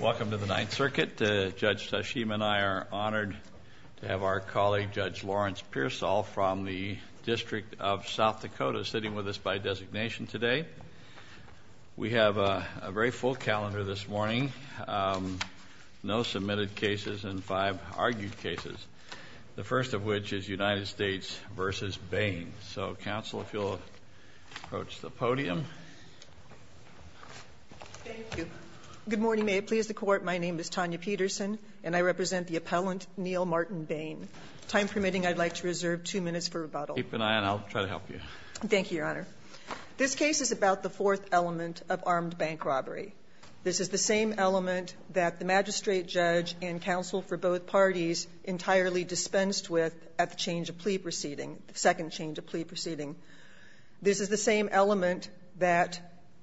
Welcome to the Ninth Circuit. Judge Tashima and I are honored to have our colleague Judge Lawrence Pearsall from the District of South Dakota sitting with us by designation today. We have a very full calendar this morning. No submitted cases and five argued cases. The first of which is United States v. Bain. So, counsel, if you'll approach the podium. Thank you. Good morning. May it please the Court, my name is Tanya Peterson and I represent the appellant, Neal Martin Bain. Time permitting, I'd like to reserve two minutes for rebuttal. Keep an eye on it. I'll try to help you. Thank you, Your Honor. This case is about the fourth element of armed bank robbery. This is the same element that the magistrate judge and counsel for both parties entirely dispensed with at the change of plea proceeding, the second change of plea proceeding. This is the same element that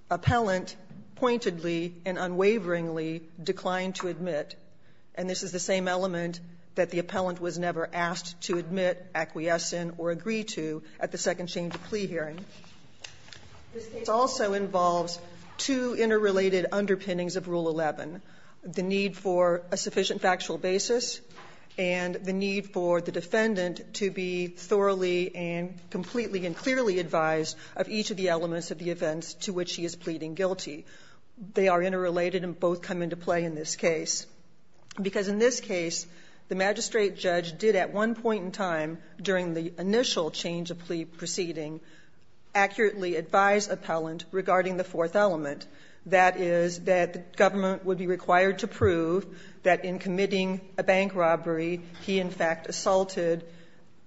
appellant pointedly and unwaveringly declined to admit, and this is the same element that the appellant was never asked to admit, acquiesce in, or agree to at the second change of plea hearing. This case also involves two interrelated underpinnings of Rule 11, the need for a sufficient factual basis, and the need for the defendant to be thoroughly and completely and clearly advised of each of the elements of the events to which he is pleading guilty. They are interrelated and both come into play in this case. Because in this case, the magistrate judge did at one point in time during the initial change of plea proceeding accurately advise appellant regarding the fourth element, that is, that the government would be required to prove that in committing a bank robbery, he in fact assaulted,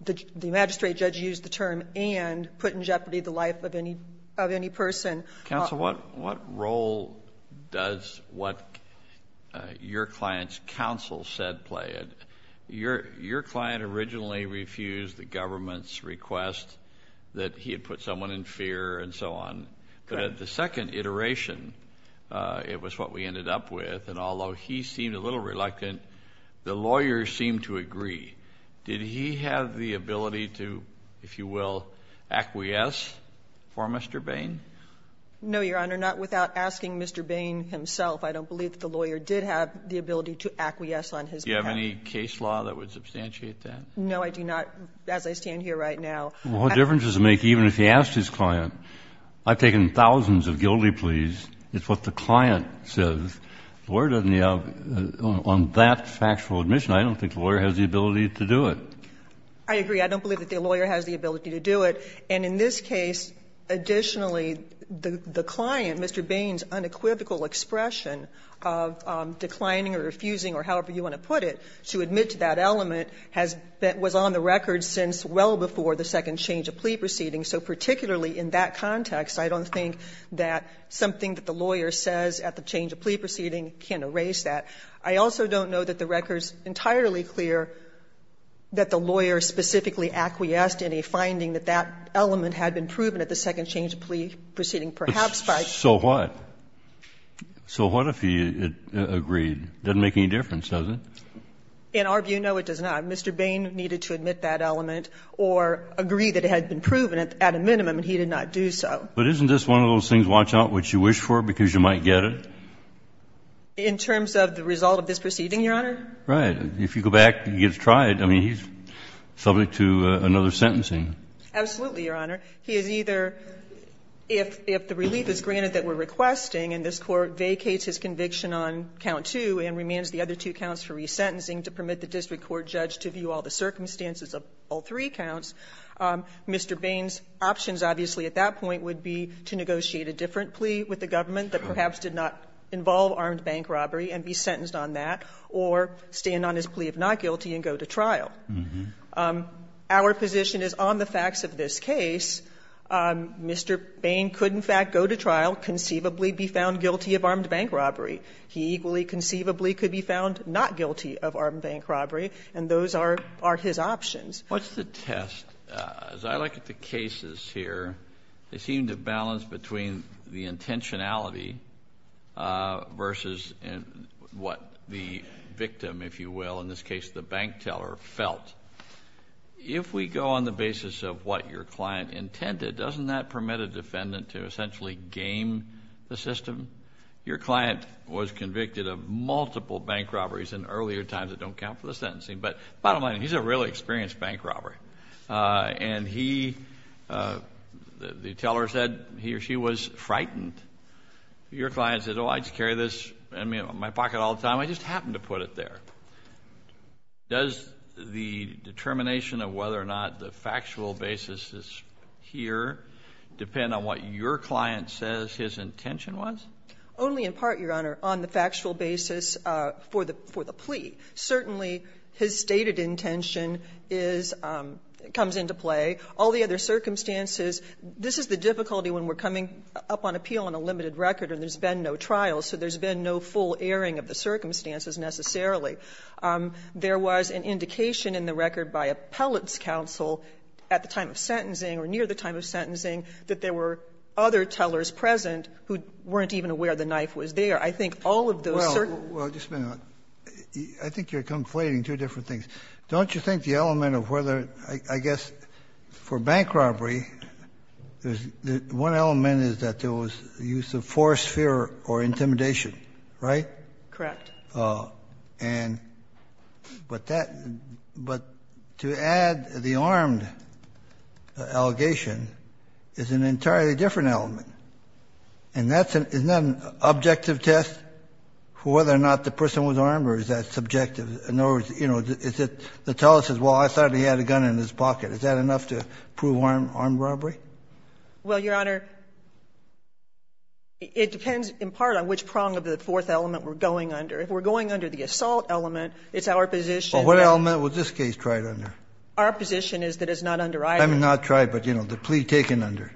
the magistrate judge used the term, and put in jeopardy the life of any person. Kennedy, what role does what your client's counsel said play? Your client originally refused the government's request that he had put someone in fear and so on. Correct. The second iteration, it was what we ended up with, and although he seemed a little reluctant, the lawyers seemed to agree. Did he have the ability to, if you will, acquiesce for Mr. Bain? No, Your Honor, not without asking Mr. Bain himself. I don't believe that the lawyer did have the ability to acquiesce on his behalf. Do you have any case law that would substantiate that? No, I do not, as I stand here right now. Well, what difference does it make even if he asked his client, I've taken thousands of guilty pleas, it's what the client says. The lawyer doesn't have, on that factual admission, I don't think the lawyer has the ability to do it. I agree. I don't believe that the lawyer has the ability to do it. And in this case, additionally, the client, Mr. Bain's unequivocal expression of declining or refusing, or however you want to put it, to admit to that element has been, was on the record since well before the second change of plea proceeding. So particularly in that context, I don't think that something that the lawyer says at the change of plea proceeding can erase that. I also don't know that the record's entirely clear that the lawyer specifically acquiesced in a finding that that element had been proven at the second change of plea proceeding, perhaps by. So what? So what if he agreed? It doesn't make any difference, does it? In our view, no, it does not. Mr. Bain needed to admit that element or agree that it had been proven at a minimum, and he did not do so. But isn't this one of those things, watch out what you wish for, because you might get it? In terms of the result of this proceeding, Your Honor? Right. If you go back and you get to try it, I mean, he's subject to another sentencing. Absolutely, Your Honor. He is either, if the relief is granted that we're requesting and this Court vacates his conviction on count two and remains the other two counts for resentencing to permit the district court judge to view all the circumstances of all three counts, Mr. Bain's options, obviously, at that point would be to negotiate a different plea with the government that perhaps did not involve armed bank robbery and be sentenced on that, or stand on his plea of not guilty and go to trial. Our position is on the facts of this case, Mr. Bain could, in fact, go to trial, conceivably be found guilty of armed bank robbery. He equally conceivably could be found not guilty of armed bank robbery, and those are his options. What's the test? As I look at the cases here, they seem to balance between the intentionality versus what the victim, if you will, in this case the bank teller, felt. If we go on the basis of what your client intended, doesn't that permit a defendant to essentially game the system? Your client was convicted of multiple bank robberies in earlier times that don't count for the sentencing, but bottom line, he's a really experienced bank robber. And he, the teller said he or she was frightened. Your client said, oh, I just carry this in my pocket all the time. I just happen to put it there. Does the determination of whether or not the factual basis is here depend on what your client says his intention was? Only in part, Your Honor, on the factual basis for the plea. Certainly, his stated intention is, comes into play. All the other circumstances, this is the difficulty when we're coming up on appeal on a limited record and there's been no trial, so there's been no full airing of the circumstances necessarily. There was an indication in the record by appellate's counsel at the time of sentencing or near the time of sentencing that there were other tellers present who weren't even aware the knife was there. I think all of those certain --- Kennedy, I think you're conflating two different things. Don't you think the element of whether, I guess, for bank robbery, there's one element is that there was the use of force, fear or intimidation, right? Correct. And, but that, but to add the armed allegation is an entirely different element. And that's an, isn't that an objective test for whether or not the person was armed or is that subjective? In other words, you know, is it, the teller says, well, I thought he had a gun in his pocket. Is that enough to prove armed robbery? Well, Your Honor, it depends in part on which prong of the fourth element we're going under. If we're going under the assault element, it's our position that --- Well, what element was this case tried under? Our position is that it's not under either. I mean, not tried, but, you know, the plea taken under.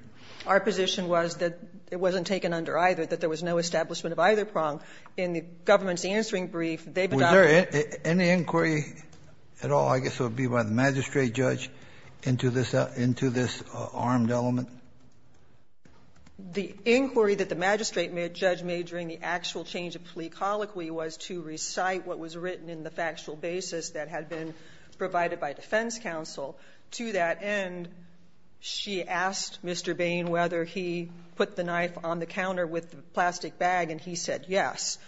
Our position was that it wasn't taken under either, that there was no establishment of either prong. In the government's answering brief, they've adopted the--- Was there any inquiry at all, I guess it would be by the magistrate judge, into this armed element? The inquiry that the magistrate judge made during the actual change of plea colloquy was to recite what was written in the factual basis that had been provided by defense counsel. To that end, she asked Mr. Bain whether he put the knife on the counter with the plastic bag, and he said yes.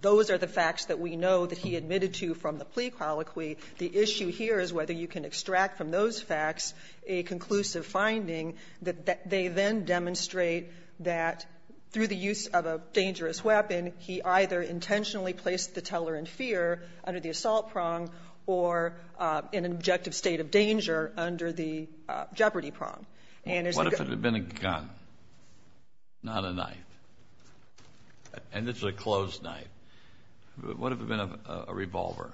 Those are the facts that we know that he admitted to from the plea colloquy. The issue here is whether you can extract from those facts a conclusive finding that they then demonstrate that through the use of a dangerous weapon, he either intentionally placed the teller in fear under the assault prong or in an objective state of danger under the jeopardy prong. And as the--- What if it had been a gun, not a knife? And it's a closed knife. What if it had been a revolver?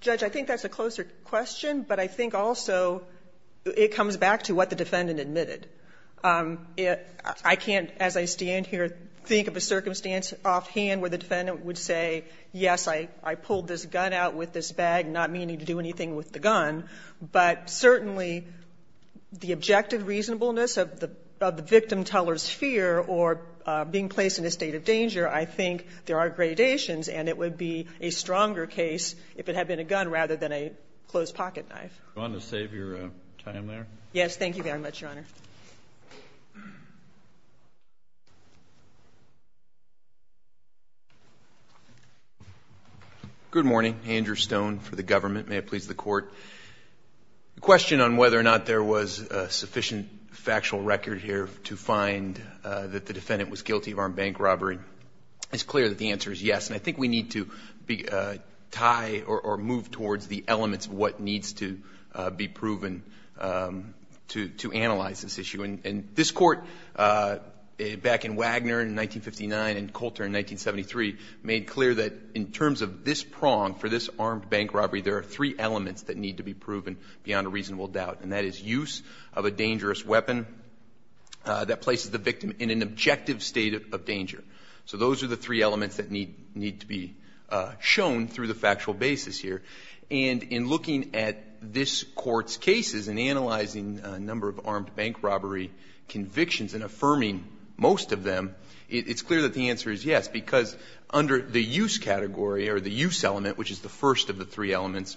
Judge, I think that's a closer question, but I think also it comes back to what the defendant admitted. I can't, as I stand here, think of a circumstance offhand where the defendant would say, yes, I pulled this gun out with this bag, not meaning to do anything with the gun. But certainly, the objective reasonableness of the victim teller's fear or being placed in a state of danger, I think there are gradations, and it would be a stronger case if it had been a gun rather than a closed-pocket knife. Do you want to save your time there? Thank you very much, Your Honor. Good morning. Andrew Stone for the government. May it please the Court. The question on whether or not there was a sufficient factual record here to find that the defendant was guilty of armed bank robbery is clear that the answer is yes. And I think we need to tie or move towards the elements of what needs to be proven to analyze this issue. And this Court, back in Wagner in 1959 and Coulter in 1973, made clear that in terms of this prong for this armed bank robbery, there are three elements that need to be proven beyond a reasonable doubt, and that is use of a dangerous weapon that places the victim in an objective state of danger. So those are the three elements that need to be shown through the factual basis here. And in looking at this Court's cases and analyzing a number of armed bank robbery convictions and affirming most of them, it's clear that the answer is yes, because under the use category or the use element, which is the first of the three elements,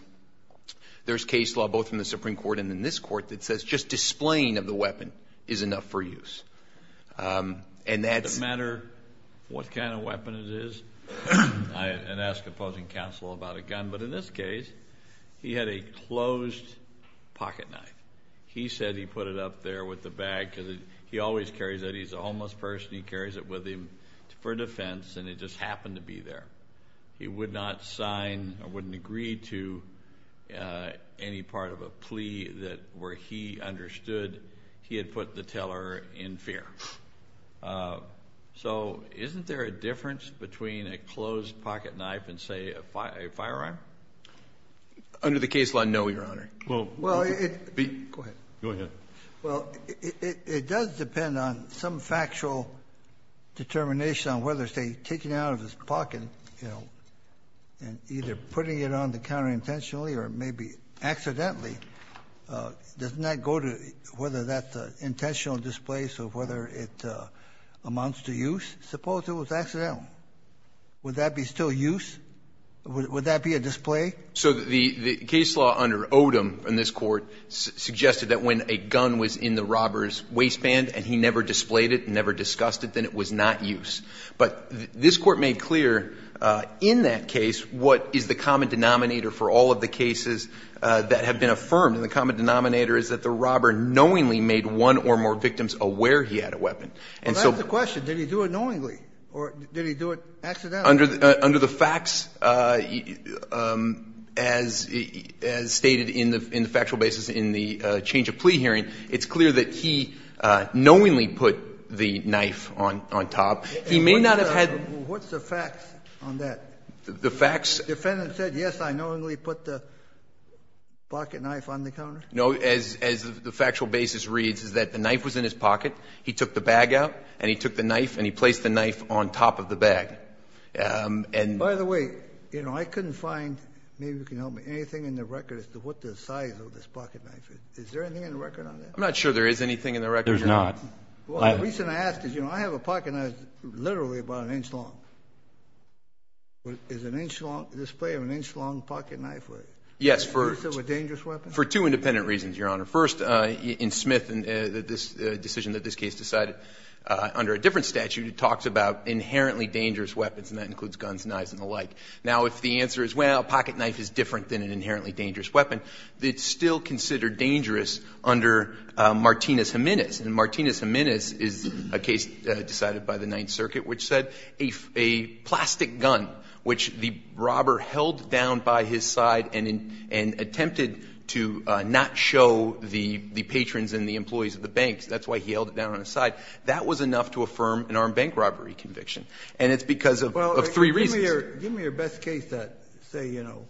there's case law both in the Supreme Court and in this Court that says just displaying of the weapon is enough for use. And that's... No matter what kind of weapon it is, and I ask opposing counsel about a gun, but in this case, he had a closed pocket knife. He said he put it up there with the bag because he always carries it. He's a homeless person. He carries it with him for defense, and it just happened to be there. He would not sign or wouldn't agree to any part of a plea where he understood he had put the teller in fear. So isn't there a difference between a closed pocket knife and, say, a firearm? Under the case law, no, Your Honor. Well, it... Go ahead. Go ahead. Well, it does depend on some factual determination on whether, say, taking it out of his pocket, you know, and either putting it on to counterintentionally or maybe accidentally, does not go to whether that's an intentional displace or whether it amounts to use. Suppose it was accidental. Would that be still use? Would that be a display? So the case law under Odom in this Court suggested that when a gun was in the robber's waistband and he never displayed it, never discussed it, then it was not use. But this Court made clear in that case what is the common denominator for all of the is that the robber knowingly made one or more victims aware he had a weapon. And so... But that's the question. Did he do it knowingly or did he do it accidentally? Under the facts, as stated in the factual basis in the change of plea hearing, it's clear that he knowingly put the knife on top. He may not have had... What's the facts on that? The facts... The defendant said, yes, I knowingly put the pocket knife on the counter? No, as the factual basis reads, is that the knife was in his pocket. He took the bag out and he took the knife and he placed the knife on top of the bag. And... By the way, you know, I couldn't find, maybe you can help me, anything in the record as to what the size of this pocket knife is. Is there anything in the record on that? I'm not sure there is anything in the record. There's not. Well, the reason I ask is, you know, I have a pocket knife literally about an inch long. Is an inch long, display of an inch long pocket knife... Yes, for... Is it a dangerous weapon? For two independent reasons, Your Honor. First, in Smith, this decision that this case decided under a different statute, it talks about inherently dangerous weapons, and that includes guns, knives, and the like. Now, if the answer is, well, a pocket knife is different than an inherently dangerous weapon, it's still considered dangerous under Martinez-Jimenez. And Martinez-Jimenez is a case decided by the Ninth Circuit, which said a plastic gun, which the robber held down by his side and attempted to not show the patrons and the employees of the banks. That's why he held it down on his side. That was enough to affirm an armed bank robbery conviction. And it's because of three reasons. Give me your best case that, say, you know,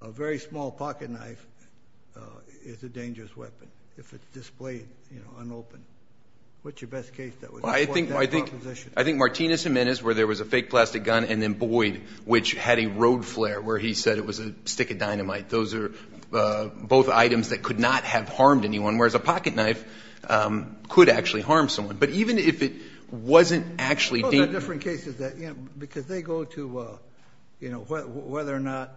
a very small pocket knife is a dangerous weapon if it's displayed, you know, unopened. What's your best case that would... I think Martinez-Jimenez, where there was a fake plastic gun, and then Boyd, which had a road flare where he said it was a stick of dynamite. Those are both items that could not have harmed anyone, whereas a pocket knife could actually harm someone. But even if it wasn't actually dangerous... Well, there are different cases that, you know, because they go to, you know, whether or not,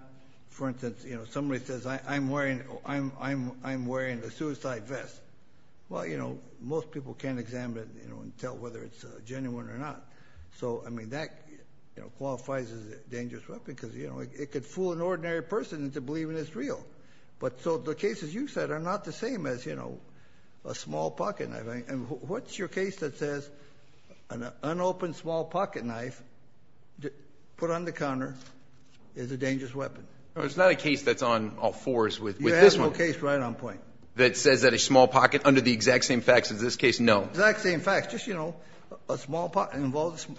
for instance, you know, somebody says, I'm wearing a suicide vest. Well, you know, most people can't examine it, you know, and tell whether it's genuine or not. So, I mean, that, you know, qualifies as a dangerous weapon because, you know, it could fool an ordinary person into believing it's real. But so the cases you said are not the same as, you know, a small pocket knife. And what's your case that says an unopened small pocket knife put on the counter is a dangerous weapon? No, it's not a case that's on all fours with this one. You have no case right on point. That says that a small pocket, under the exact same facts as this case? No. Exact same facts. Just, you know, a small pocket knife.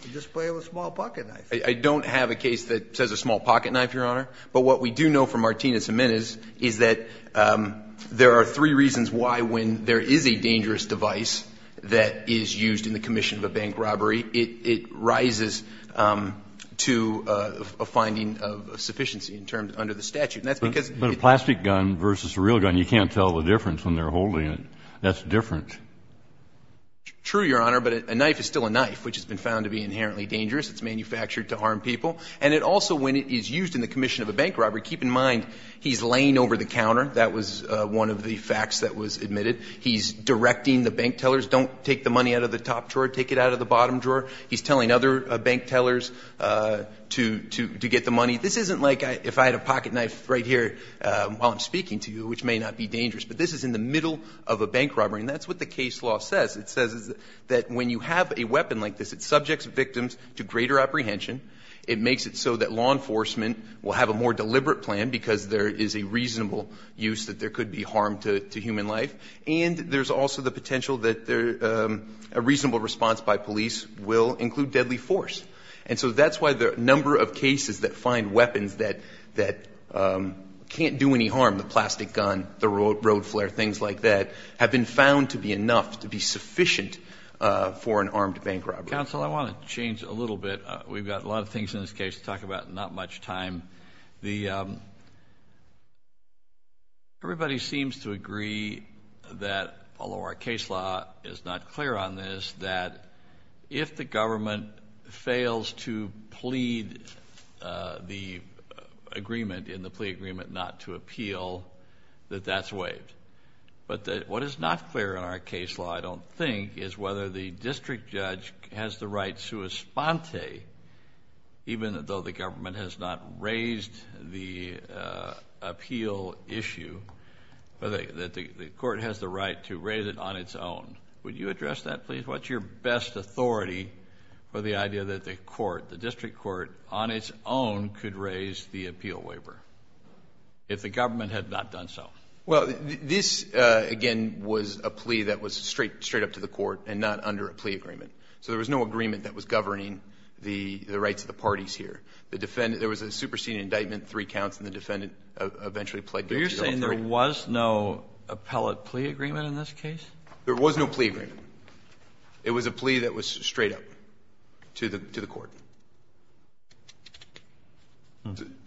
I don't have a case that says a small pocket knife, Your Honor. When there is a dangerous device that is used in the commission of a bank robbery, it rises to a finding of sufficiency in terms under the statute. But a plastic gun versus a real gun, you can't tell the difference when they're holding it. That's different. True, Your Honor, but a knife is still a knife, which has been found to be inherently dangerous. It's manufactured to harm people. And it also, when it is used in the commission of a bank robbery, keep in mind, he's laying over the counter. That was one of the facts that was admitted. He's directing the bank tellers, don't take the money out of the top drawer, take it out of the bottom drawer. He's telling other bank tellers to get the money. This isn't like if I had a pocket knife right here while I'm speaking to you, which may not be dangerous. But this is in the middle of a bank robbery. And that's what the case law says. It says that when you have a weapon like this, it subjects victims to greater apprehension. It makes it so that law enforcement will have a more deliberate plan because there is a reasonable use that there could be harm to human life. And there's also the potential that a reasonable response by police will include deadly force. And so that's why the number of cases that find weapons that can't do any harm, the plastic gun, the road flare, things like that, have been found to be enough to be sufficient for an armed bank robbery. Counsel, I want to change a little bit. We've got a lot of things in this case to talk about and not much time. Everybody seems to agree that, although our case law is not clear on this, that if the government fails to plead the agreement in the plea agreement not to appeal, that that's waived. But what is not clear in our case law, I don't think, is whether the district judge has the right, sua sponte, even though the government has not raised the appeal issue, that the court has the right to raise it on its own. Would you address that, please? What's your best authority for the idea that the court, the district court, on its own could raise the appeal waiver if the government had not done so? Well, this, again, was a plea that was straight up to the court and not under a plea agreement. So there was no agreement that was governing the rights of the parties here. The defendant, there was a superseding indictment, three counts, and the defendant eventually pled guilty to all three. But you're saying there was no appellate plea agreement in this case? There was no plea agreement. It was a plea that was straight up to the court.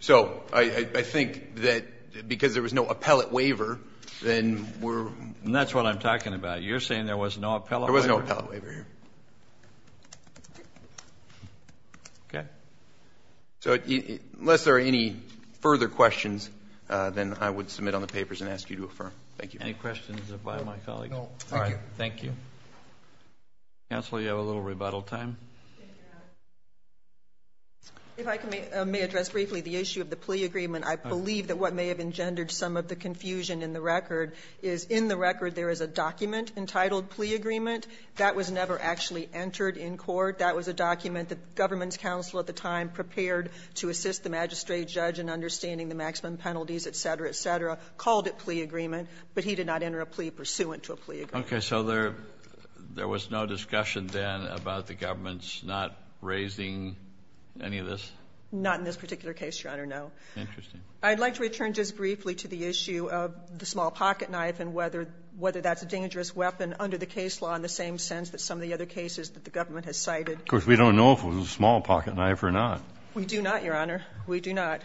So I think that because there was no appellate waiver, then we're... You're saying there was no appellate waiver? There was no appellate waiver here. Okay. So unless there are any further questions, then I would submit on the papers and ask you to affirm. Thank you. Any questions by my colleagues? No. All right. Thank you. Thank you. Counsel, you have a little rebuttal time. If I may address briefly the issue of the plea agreement, I believe that what may have engendered some of the confusion in the record is in the record there is a document entitled plea agreement. That was never actually entered in court. That was a document that the government's counsel at the time prepared to assist the magistrate judge in understanding the maximum penalties, et cetera, et cetera, called it plea agreement. But he did not enter a plea pursuant to a plea agreement. Okay. So there was no discussion then about the government's not raising any of this? Not in this particular case, Your Honor, no. Interesting. I'd like to return just briefly to the issue of the small pocketknife and whether that's a dangerous weapon under the case law in the same sense that some of the other cases that the government has cited. Of course, we don't know if it was a small pocketknife or not. We do not, Your Honor. We do not.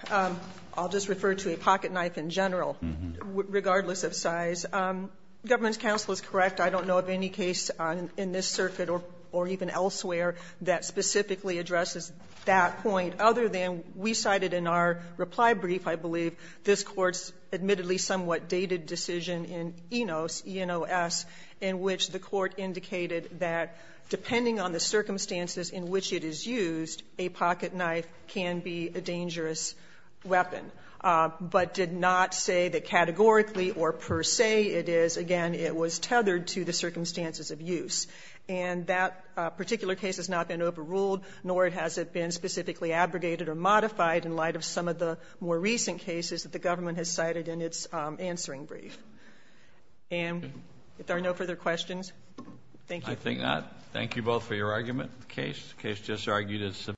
I'll just refer to a pocketknife in general regardless of size. Government's counsel is correct. I don't know of any case in this circuit or even elsewhere that specifically addresses that point other than we cited in our reply brief, I believe, this Court's NOS in which the Court indicated that depending on the circumstances in which it is used, a pocketknife can be a dangerous weapon, but did not say that categorically or per se it is. Again, it was tethered to the circumstances of use. And that particular case has not been overruled, nor has it been specifically abrogated or modified in light of some of the more recent cases that the government has cited in its answering brief. And if there are no further questions, thank you. I think not. Thank you both for your argument in the case. The case just argued is subpoenaed.